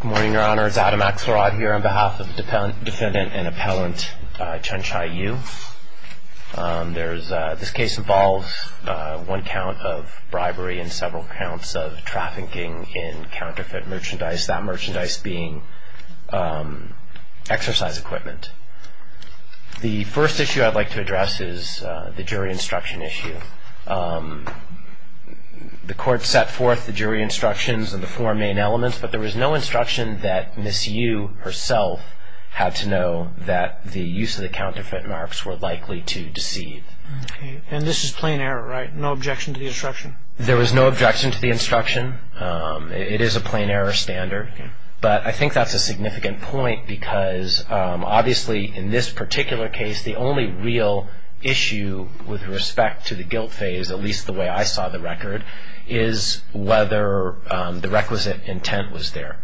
Good morning, Your Honor. It's Adam Axelrod here on behalf of Defendant and Appellant Chunchai Yu. This case involves one count of bribery and several counts of trafficking in counterfeit merchandise, that merchandise being exercise equipment. The first issue I'd like to address is the jury instruction issue. The court set forth the jury instructions and the four main elements, but there was no instruction that Ms. Yu herself had to know that the use of the counterfeit marks were likely to deceive. And this is plain error, right? No objection to the instruction? There was no objection to the instruction. It is a plain error standard. But I think that's a significant point because obviously in this particular case, the only real issue with respect to the guilt phase, at least the way I saw the record, is whether the requisite intent was there.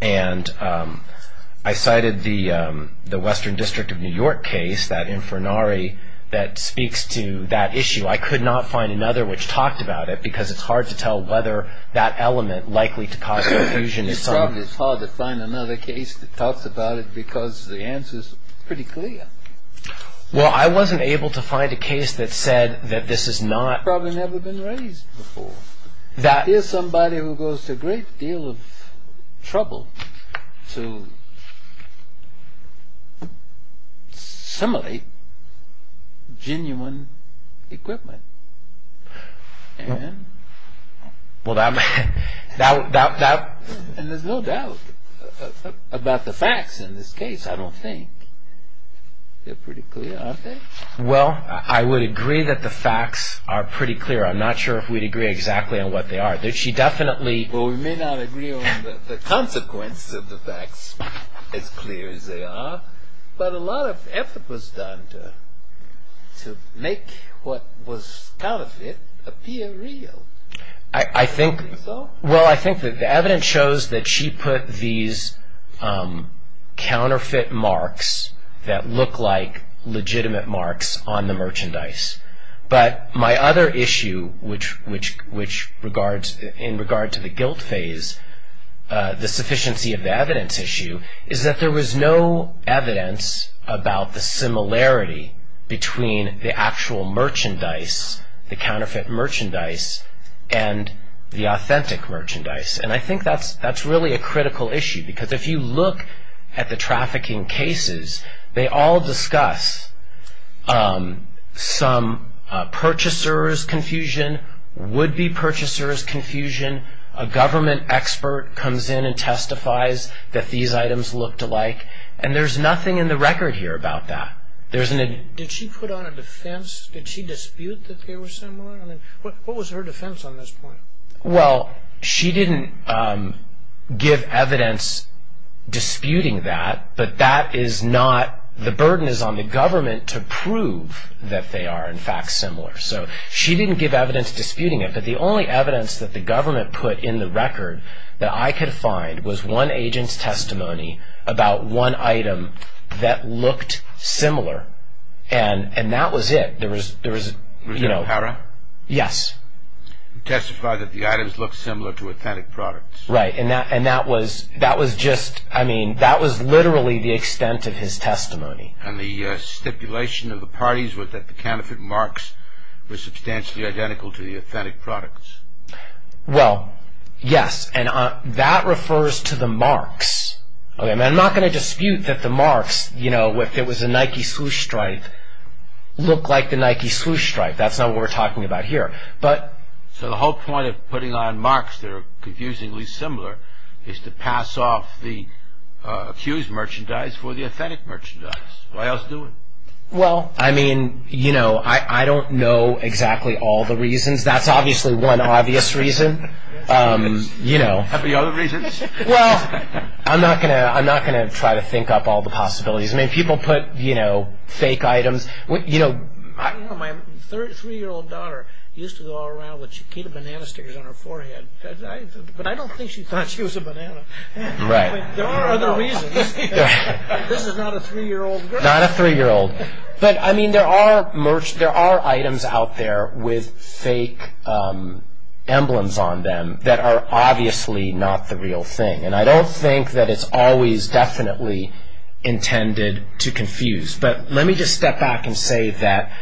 And I cited the Western District of New York case, that Infernari that speaks to that issue. I could not find another which talked about it because it's hard to tell whether that element likely to cause confusion. It's hard to find another case that talks about it because the answer's pretty clear. Well, I wasn't able to find a case that said that this is not... Probably never been raised before. Here's somebody who goes to a great deal of trouble to simulate genuine equipment. And there's no doubt about the facts in this case, I don't think. They're pretty clear, aren't they? Well, I would agree that the facts are pretty clear. I'm not sure if we'd agree exactly on what they are. She definitely... Well, we may not agree on the consequences of the facts, as clear as they are, but a lot of effort was done to make what was counterfeit appear real. Well, I think that the evidence shows that she put these counterfeit marks that look like legitimate marks on the merchandise. But my other issue, in regard to the guilt phase, the sufficiency of the evidence issue, is that there was no evidence about the similarity between the actual merchandise, the counterfeit merchandise, and the authentic merchandise. And I think that's really a critical issue because if you look at the trafficking cases, they all discuss some purchaser's confusion, would-be purchaser's confusion, a government expert comes in and testifies that these items looked alike, and there's nothing in the record here about that. Did she put on a defense? Did she dispute that they were similar? I mean, what was her defense on this point? Well, she didn't give evidence disputing that, but that is not... the burden is on the government to prove that they are in fact similar. So she didn't give evidence disputing it, but the only evidence that the government put in the record that I could find was one agent's testimony about one item that looked similar, and that was it. There was, you know... Was it a para? Yes. He testified that the items looked similar to authentic products. Right, and that was just... I mean, that was literally the extent of his testimony. And the stipulation of the parties was that the counterfeit marks were substantially identical to the authentic products. Well, yes, and that refers to the marks. I'm not going to dispute that the marks, you know, if it was a Nike sluice stripe, looked like the Nike sluice stripe. That's not what we're talking about here, but... So the whole point of putting on marks that are confusingly similar is to pass off the accused merchandise for the authentic merchandise. Why else do it? Well, I mean, you know, I don't know exactly all the reasons. That's obviously one obvious reason, you know. Have any other reasons? Well, I'm not going to try to think up all the possibilities. I mean, people put, you know, fake items. You know, my three-year-old daughter used to go around with Chiquita banana stickers on her forehead, but I don't think she thought she was a banana. Right. There are other reasons. This is not a three-year-old girl. Not a three-year-old. But, I mean, there are items out there with fake emblems on them that are obviously not the real thing, and I don't think that it's always definitely intended to confuse. But let me just step back and say that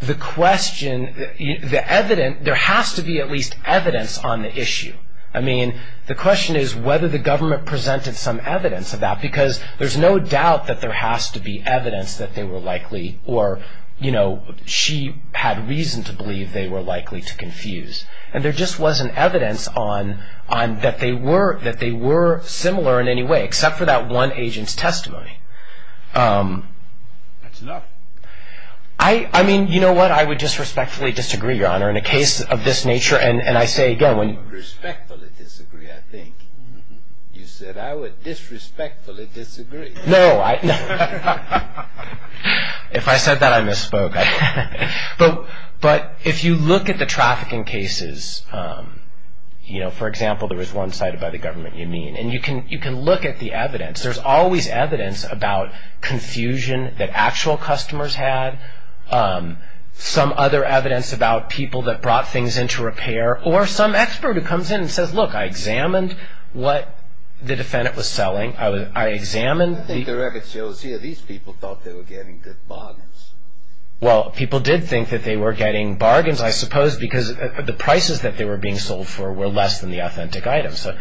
the question, the evidence, there has to be at least evidence on the issue. I mean, the question is whether the government presented some evidence of that, because there's no doubt that there has to be evidence that they were likely, or, you know, she had reason to believe they were likely to confuse. And there just wasn't evidence on that they were similar in any way, except for that one agent's testimony. That's enough. I mean, you know what? I would disrespectfully disagree, Your Honor, in a case of this nature, and I say again when you say that. I would respectfully disagree, I think. You said, I would disrespectfully disagree. No. If I said that, I misspoke. But if you look at the trafficking cases, you know, for example, there was one cited by the government, you mean, and you can look at the evidence. There's always evidence about confusion that actual customers had, some other evidence about people that brought things into repair, or some expert who comes in and says, look, I examined what the defendant was selling. I examined the... I think the record shows here these people thought they were getting good bargains. Well, people did think that they were getting bargains, I suppose, because the prices that they were being sold for were less than the authentic items. So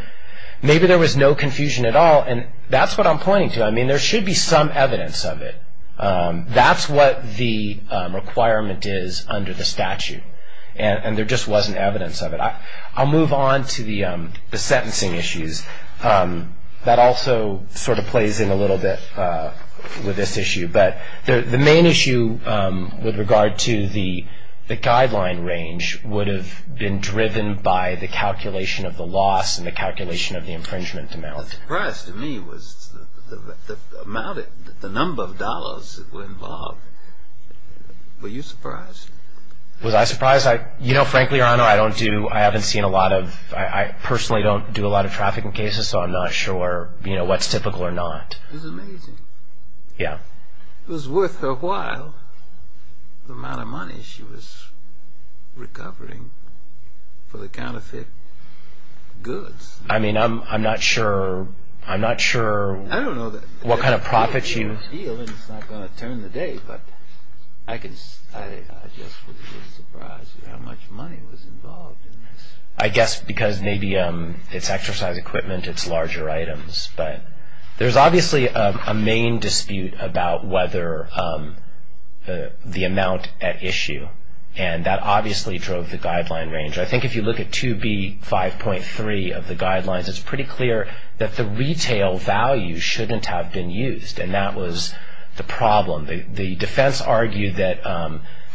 maybe there was no confusion at all, and that's what I'm pointing to. I mean, there should be some evidence of it. That's what the requirement is under the statute, and there just wasn't evidence of it. I'll move on to the sentencing issues. That also sort of plays in a little bit with this issue. But the main issue with regard to the guideline range would have been driven by the calculation of the loss and the calculation of the infringement amount. What surprised me was the amount, the number of dollars that were involved. Were you surprised? Was I surprised? You know, frankly, Your Honor, I don't do... I haven't seen a lot of... I personally don't do a lot of trafficking cases, so I'm not sure what's typical or not. This is amazing. Yeah. It was worth her while, the amount of money she was recovering for the counterfeit goods. I mean, I'm not sure... I don't know that... What kind of profits you... It's a big deal, and it's not going to turn the day, but I just was a little surprised at how much money was involved in this. I guess because maybe it's exercise equipment, it's larger items, but there's obviously a main dispute about whether the amount at issue, and that obviously drove the guideline range. I think if you look at 2B5.3 of the guidelines, it's pretty clear that the retail value shouldn't have been used, and that was the problem. The defense argued that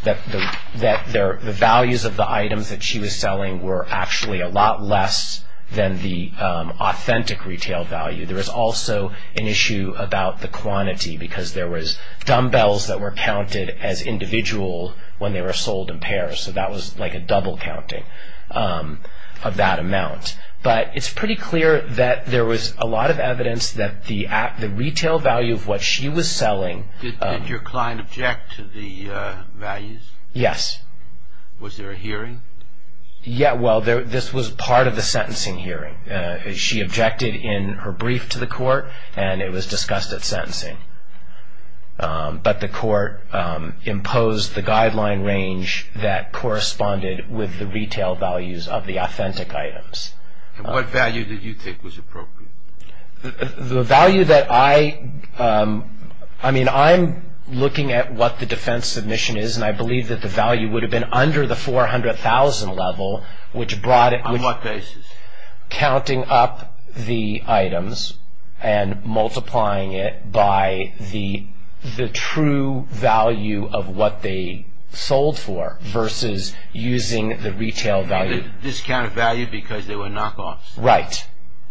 the values of the items that she was selling were actually a lot less than the authentic retail value. There was also an issue about the quantity, because there was dumbbells that were counted as individual when they were sold in pairs, so that was like a double counting of that amount. But it's pretty clear that there was a lot of evidence that the retail value of what she was selling... Did your client object to the values? Yes. Was there a hearing? Yeah, well, this was part of the sentencing hearing. She objected in her brief to the court, and it was discussed at sentencing. But the court imposed the guideline range that corresponded with the retail values of the authentic items. And what value did you think was appropriate? The value that I... I mean, I'm looking at what the defense submission is, and I believe that the value would have been under the $400,000 level, which brought it... On what basis? Counting up the items and multiplying it by the true value of what they sold for, versus using the retail value. You mean the discounted value because they were knockoffs? Right.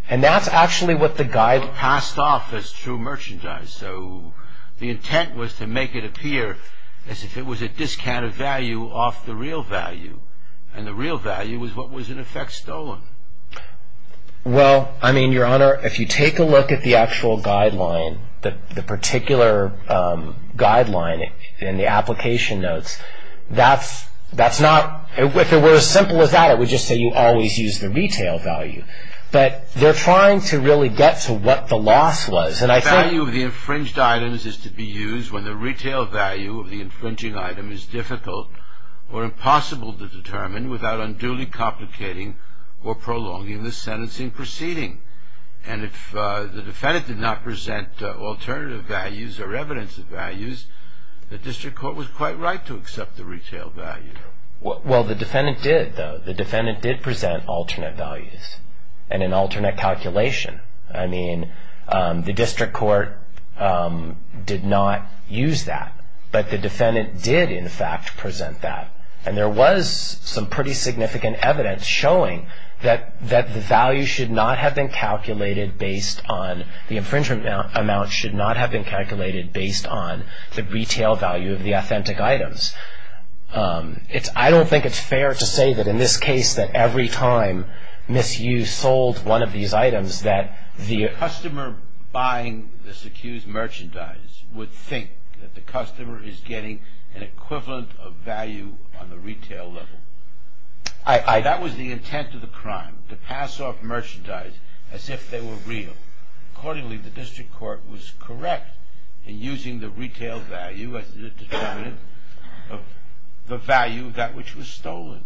And that's actually what the guide... They were passed off as true merchandise, so the intent was to make it appear as if it was a discounted value off the real value. And the real value was what was, in effect, stolen. Well, I mean, Your Honor, if you take a look at the actual guideline, the particular guideline in the application notes, that's not... If it were as simple as that, it would just say you always use the retail value. But they're trying to really get to what the loss was. And I think... The value of the infringed items is to be used when the retail value of the infringing item is difficult or impossible to determine without unduly complicating or prolonging the sentencing proceeding. And if the defendant did not present alternative values or evidence of values, the district court was quite right to accept the retail value. Well, the defendant did, though. The defendant did present alternate values and an alternate calculation. I mean, the district court did not use that. But the defendant did, in fact, present that. And there was some pretty significant evidence showing that the value should not have been calculated based on... The infringement amount should not have been calculated based on the retail value of the authentic items. I don't think it's fair to say that in this case, that every time Ms. Yu sold one of these items, that the... The customer buying this accused merchandise would think that the customer is getting an equivalent of value on the retail level. I... That was the intent of the crime, to pass off merchandise as if they were real. Accordingly, the district court was correct in using the retail value as the determinant of the value of that which was stolen.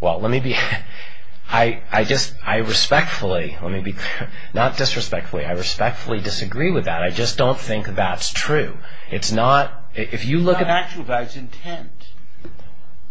Well, let me be... I just... I respectfully... Let me be... Not disrespectfully. I respectfully disagree with that. I just don't think that's true. It's not... If you look at... It's not the actual value. It's intent.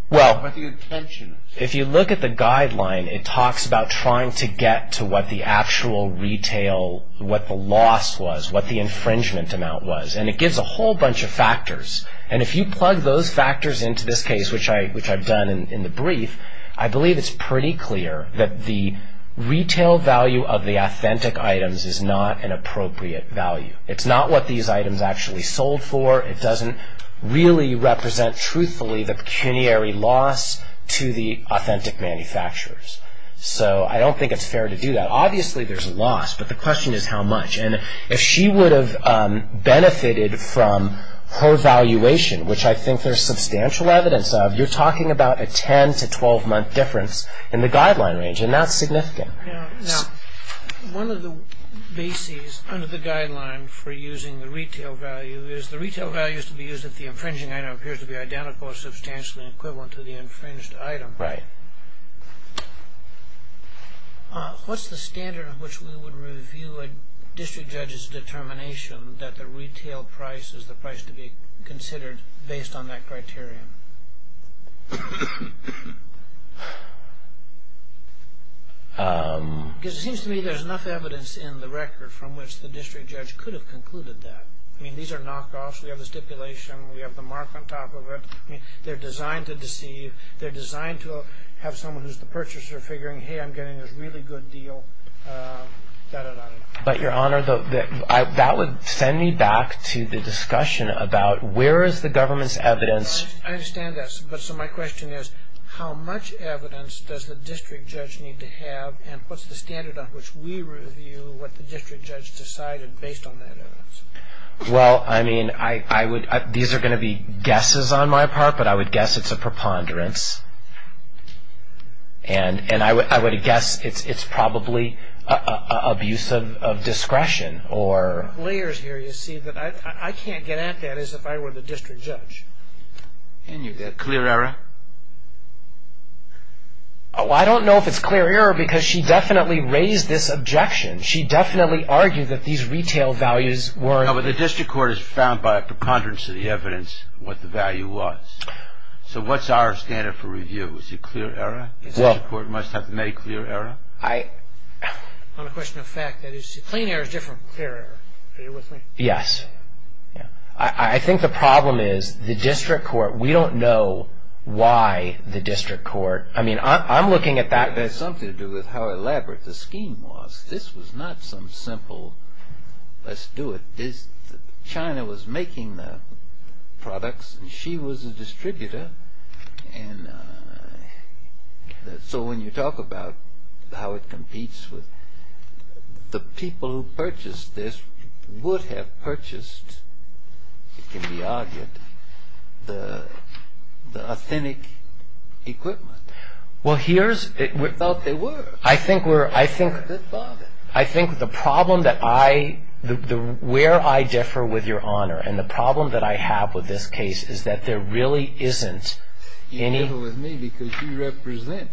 Well... What the intention is. If you look at the guideline, it talks about trying to get to what the actual retail... what the loss was, what the infringement amount was. And it gives a whole bunch of factors. And if you plug those factors into this case, which I've done in the brief, I believe it's pretty clear that the retail value of the authentic items is not an appropriate value. It's not what these items actually sold for. It doesn't really represent truthfully the pecuniary loss to the authentic manufacturers. So I don't think it's fair to do that. Obviously, there's a loss, but the question is how much. And if she would have benefited from her valuation, which I think there's substantial evidence of, you're talking about a 10- to 12-month difference in the guideline range, and that's significant. Now, one of the bases under the guideline for using the retail value is the retail value is to be used if the infringing item appears to be identical or substantially equivalent to the infringed item. Right. What's the standard of which we would review a district judge's determination that the retail price is the price to be considered based on that criterion? Because it seems to me there's enough evidence in the record from which the district judge could have concluded that. I mean, these are knockoffs. We have the stipulation. We have the mark on top of it. I mean, they're designed to deceive. They're designed to have someone who's the purchaser figuring, hey, I'm getting this really good deal, da-da-da. But, Your Honor, that would send me back to the discussion about where is the government's evidence. I understand that. But so my question is how much evidence does the district judge need to have and what's the standard on which we review what the district judge decided based on that evidence? Well, I mean, these are going to be guesses on my part, but I would guess it's a preponderance. And I would guess it's probably abuse of discretion. There are layers here, you see, that I can't get at that as if I were the district judge. And you get clear error? I don't know if it's clear error because she definitely raised this objection. She definitely argued that these retail values were... No, but the district court has found by a preponderance of the evidence what the value was. So what's our standard for review? Is it clear error? The district court must have made clear error? On a question of fact, that is, clean error is different from clear error. Are you with me? Yes. I think the problem is the district court, we don't know why the district court... I mean, I'm looking at that... This was not some simple, let's do it. China was making the products. She was a distributor. And so when you talk about how it competes with the people who purchased this would have purchased, it can be argued, the authentic equipment. Well, here's... We thought they were. I think the problem that I... where I differ with your honor and the problem that I have with this case is that there really isn't any... You differ with me because you represent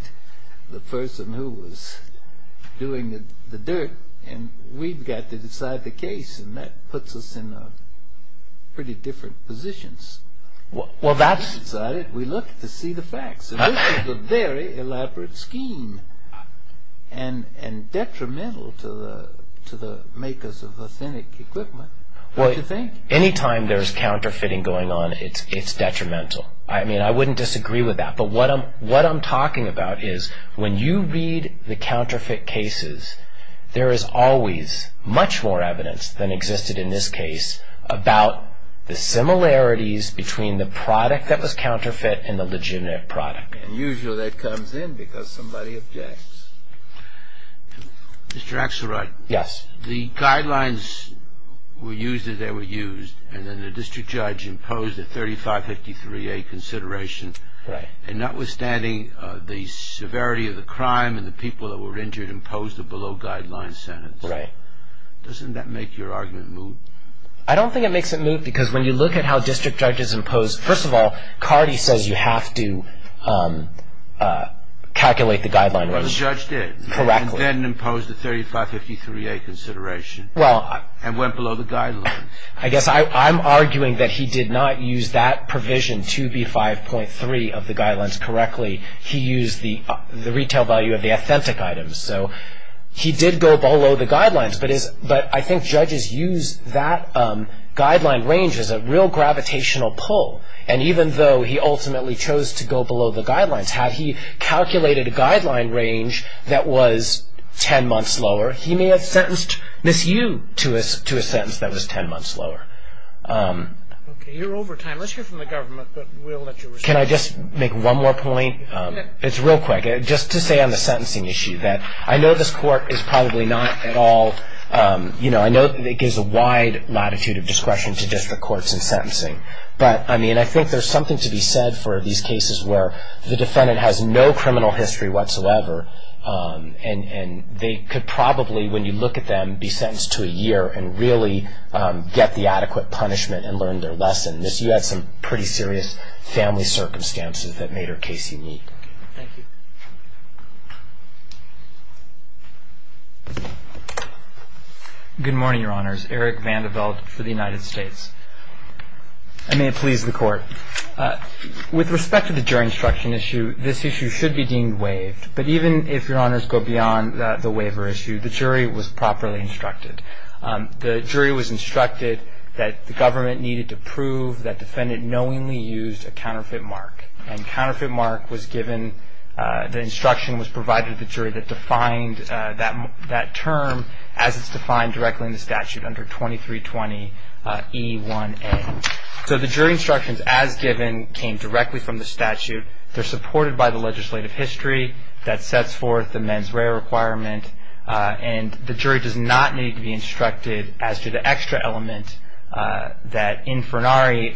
the person who was doing the dirt and we've got to decide the case, and that puts us in pretty different positions. Well, that's... And detrimental to the makers of authentic equipment, don't you think? Well, any time there's counterfeiting going on, it's detrimental. I mean, I wouldn't disagree with that, but what I'm talking about is when you read the counterfeit cases, there is always much more evidence than existed in this case about the similarities between the product that was counterfeit and the legitimate product. And usually that comes in because somebody objects. Mr. Axelrod... Yes. The guidelines were used as they were used, and then the district judge imposed a 3553A consideration. Right. And notwithstanding the severity of the crime and the people that were injured imposed a below-guideline sentence. Right. Doesn't that make your argument move? I don't think it makes it move because when you look at how district judges impose... calculate the guidelines... Well, the judge did... Correctly.... and then imposed a 3553A consideration... Well...... and went below the guidelines. I guess I'm arguing that he did not use that provision 2B5.3 of the guidelines correctly. He used the retail value of the authentic items. So he did go below the guidelines, but I think judges use that guideline range as a real gravitational pull. And even though he ultimately chose to go below the guidelines, had he calculated a guideline range that was 10 months lower, he may have sentenced Ms. Yu to a sentence that was 10 months lower. Okay. You're over time. Let's hear from the government, but we'll let you respond. Can I just make one more point? It's real quick. Just to say on the sentencing issue that I know this court is probably not at all... I know that it gives a wide latitude of discretion to district courts in sentencing, but, I mean, I think there's something to be said for these cases where the defendant has no criminal history whatsoever, and they could probably, when you look at them, be sentenced to a year and really get the adequate punishment and learn their lesson. Ms. Yu had some pretty serious family circumstances that made her case unique. Thank you. Good morning, Your Honors. My name is Eric Vanderveldt for the United States. And may it please the Court. With respect to the jury instruction issue, this issue should be deemed waived. But even if, Your Honors, go beyond the waiver issue, the jury was properly instructed. The jury was instructed that the government needed to prove that the defendant knowingly used a counterfeit mark. And counterfeit mark was given... the instruction was provided to the jury that defined that term as it's defined directly in the statute under 2320E1A. So the jury instructions as given came directly from the statute. They're supported by the legislative history that sets forth the mens rea requirement. And the jury does not need to be instructed as to the extra element that Infernari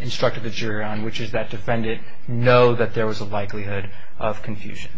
instructed the jury on, which is that defendant know that there was a likelihood of confusion.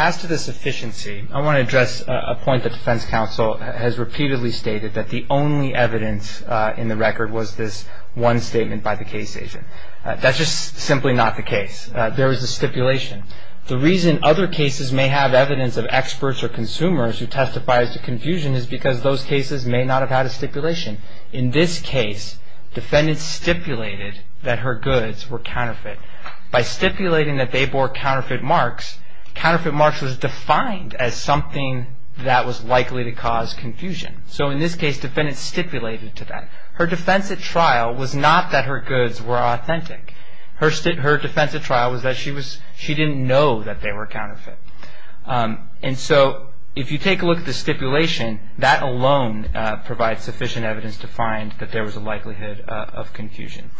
As to the sufficiency, I want to address a point the defense counsel has repeatedly stated, that the only evidence in the record was this one statement by the case agent. That's just simply not the case. There was a stipulation. The reason other cases may have evidence of experts or consumers who testifies to confusion is because those cases may not have had a stipulation. In this case, defendant stipulated that her goods were counterfeit. By stipulating that they bore counterfeit marks, counterfeit marks was defined as something that was likely to cause confusion. So in this case, defendant stipulated to that. Her defense at trial was not that her goods were authentic. Her defense at trial was that she didn't know that they were counterfeit. And so if you take a look at the stipulation, that alone provides sufficient evidence to find that there was a likelihood of confusion.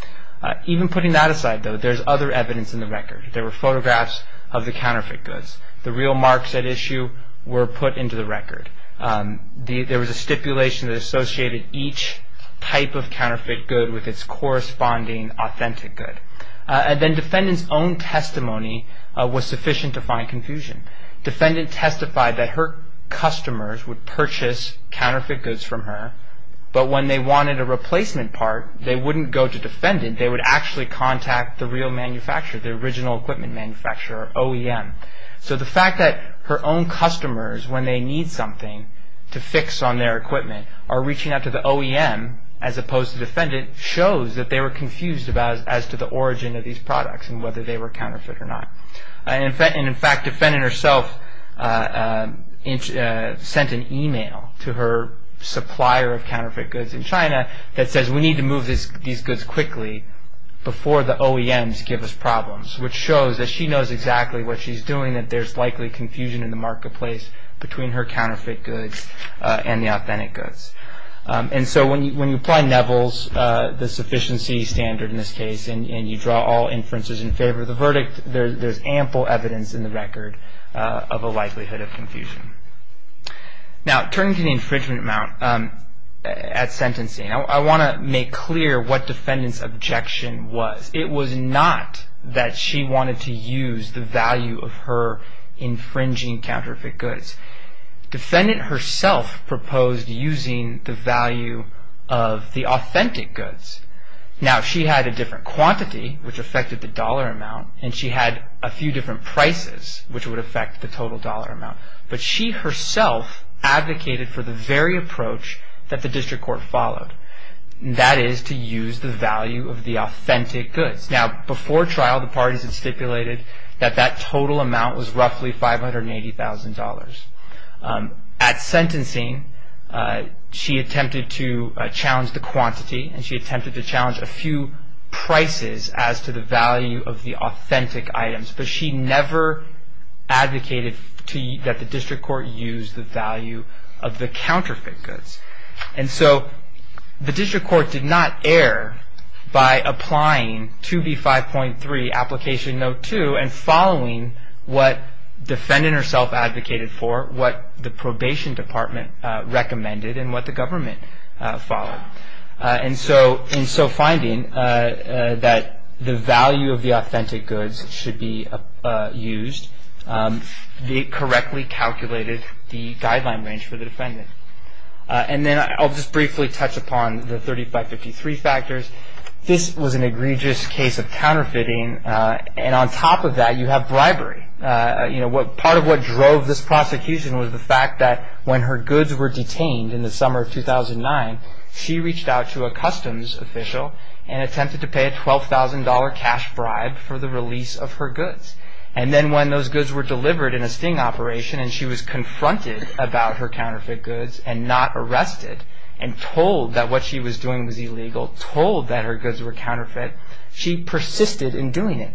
Even putting that aside, though, there's other evidence in the record. There were photographs of the counterfeit goods. The real marks at issue were put into the record. There was a stipulation that associated each type of counterfeit good with its corresponding authentic good. And then defendant's own testimony was sufficient to find confusion. Defendant testified that her customers would purchase counterfeit goods from her, but when they wanted a replacement part, they wouldn't go to defendant. They would actually contact the real manufacturer, the original equipment manufacturer, OEM. So the fact that her own customers, when they need something to fix on their equipment, are reaching out to the OEM as opposed to defendant, shows that they were confused as to the origin of these products and whether they were counterfeit or not. And in fact, defendant herself sent an email to her supplier of counterfeit goods in China that says we need to move these goods quickly before the OEMs give us problems, which shows that she knows exactly what she's doing, that there's likely confusion in the marketplace between her counterfeit goods and the authentic goods. And so when you apply Neville's, the sufficiency standard in this case, and you draw all inferences in favor of the verdict, there's ample evidence in the record of a likelihood of confusion. Now, turning to the infringement amount at sentencing, I want to make clear what defendant's objection was. It was not that she wanted to use the value of her infringing counterfeit goods. Defendant herself proposed using the value of the authentic goods. Now, she had a different quantity, which affected the dollar amount, and she had a few different prices, which would affect the total dollar amount. But she herself advocated for the very approach that the district court followed, and that is to use the value of the authentic goods. Now, before trial, the parties had stipulated that that total amount was roughly $580,000. At sentencing, she attempted to challenge the quantity and she attempted to challenge a few prices as to the value of the authentic items. But she never advocated that the district court use the value of the counterfeit goods. And so the district court did not err by applying 2B5.3, application note 2, and following what defendant herself advocated for, what the probation department recommended, and what the government followed. And so finding that the value of the authentic goods should be used, they correctly calculated the guideline range for the defendant. And then I'll just briefly touch upon the 3553 factors. This was an egregious case of counterfeiting, and on top of that, you have bribery. Part of what drove this prosecution was the fact that when her goods were detained in the summer of 2009, she reached out to a customs official and attempted to pay a $12,000 cash bribe for the release of her goods. And then when those goods were delivered in a sting operation and she was confronted about her counterfeit goods and not arrested and told that what she was doing was illegal, told that her goods were counterfeit, she persisted in doing it.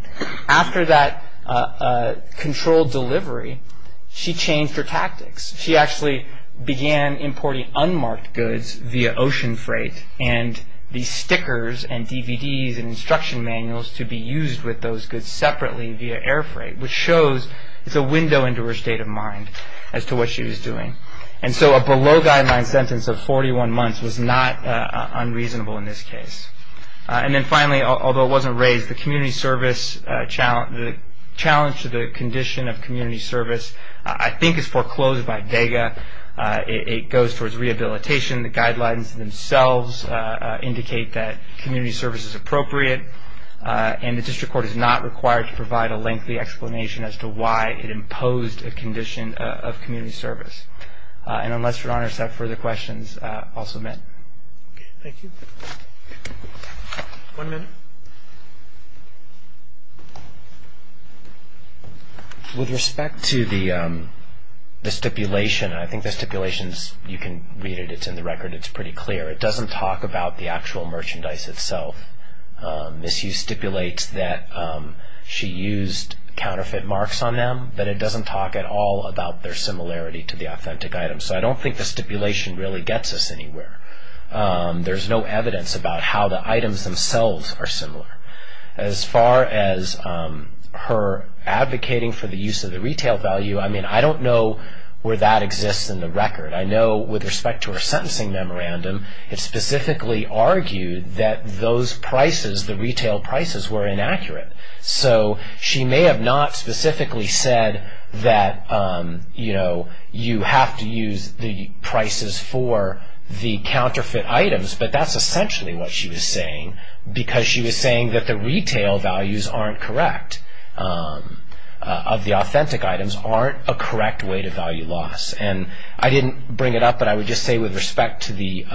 After that controlled delivery, she changed her tactics. She actually began importing unmarked goods via ocean freight and these stickers and DVDs and instruction manuals to be used with those goods separately via air freight, which shows it's a window into her state of mind as to what she was doing. And so a below-guideline sentence of 41 months was not unreasonable in this case. And then finally, although it wasn't raised, the community service challenge to the condition of community service I think is foreclosed by DAGA. It goes towards rehabilitation. The guidelines themselves indicate that community service is appropriate and the district court is not required to provide a lengthy explanation as to why it imposed a condition of community service. And unless your honors have further questions, I'll submit. Thank you. One minute. With respect to the stipulation, I think the stipulation, you can read it. It's in the record. It's pretty clear. It doesn't talk about the actual merchandise itself. Misuse stipulates that she used counterfeit marks on them, but it doesn't talk at all about their similarity to the authentic items. So I don't think the stipulation really gets us anywhere. There's no evidence about how the items themselves are similar. As far as her advocating for the use of the retail value, I mean, I don't know where that exists in the record. I know with respect to her sentencing memorandum, it specifically argued that those prices, the retail prices, were inaccurate. So she may have not specifically said that, you know, you have to use the prices for the counterfeit items, but that's essentially what she was saying because she was saying that the retail values aren't correct, of the authentic items aren't a correct way to value loss. And I didn't bring it up, but I would just say with respect to the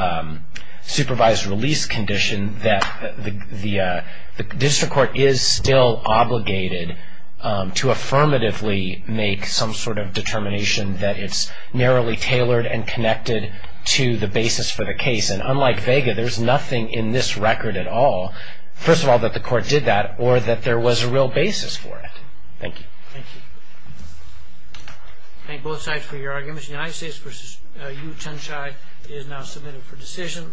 supervised release condition, that the district court is still obligated to affirmatively make some sort of determination that it's narrowly tailored and connected to the basis for the case. And unlike Vega, there's nothing in this record at all, first of all, that the court did that, or that there was a real basis for it. Thank you. Thank you. Thank both sides for your arguments. The United States v. U. of Tenshai is now submitted for decision.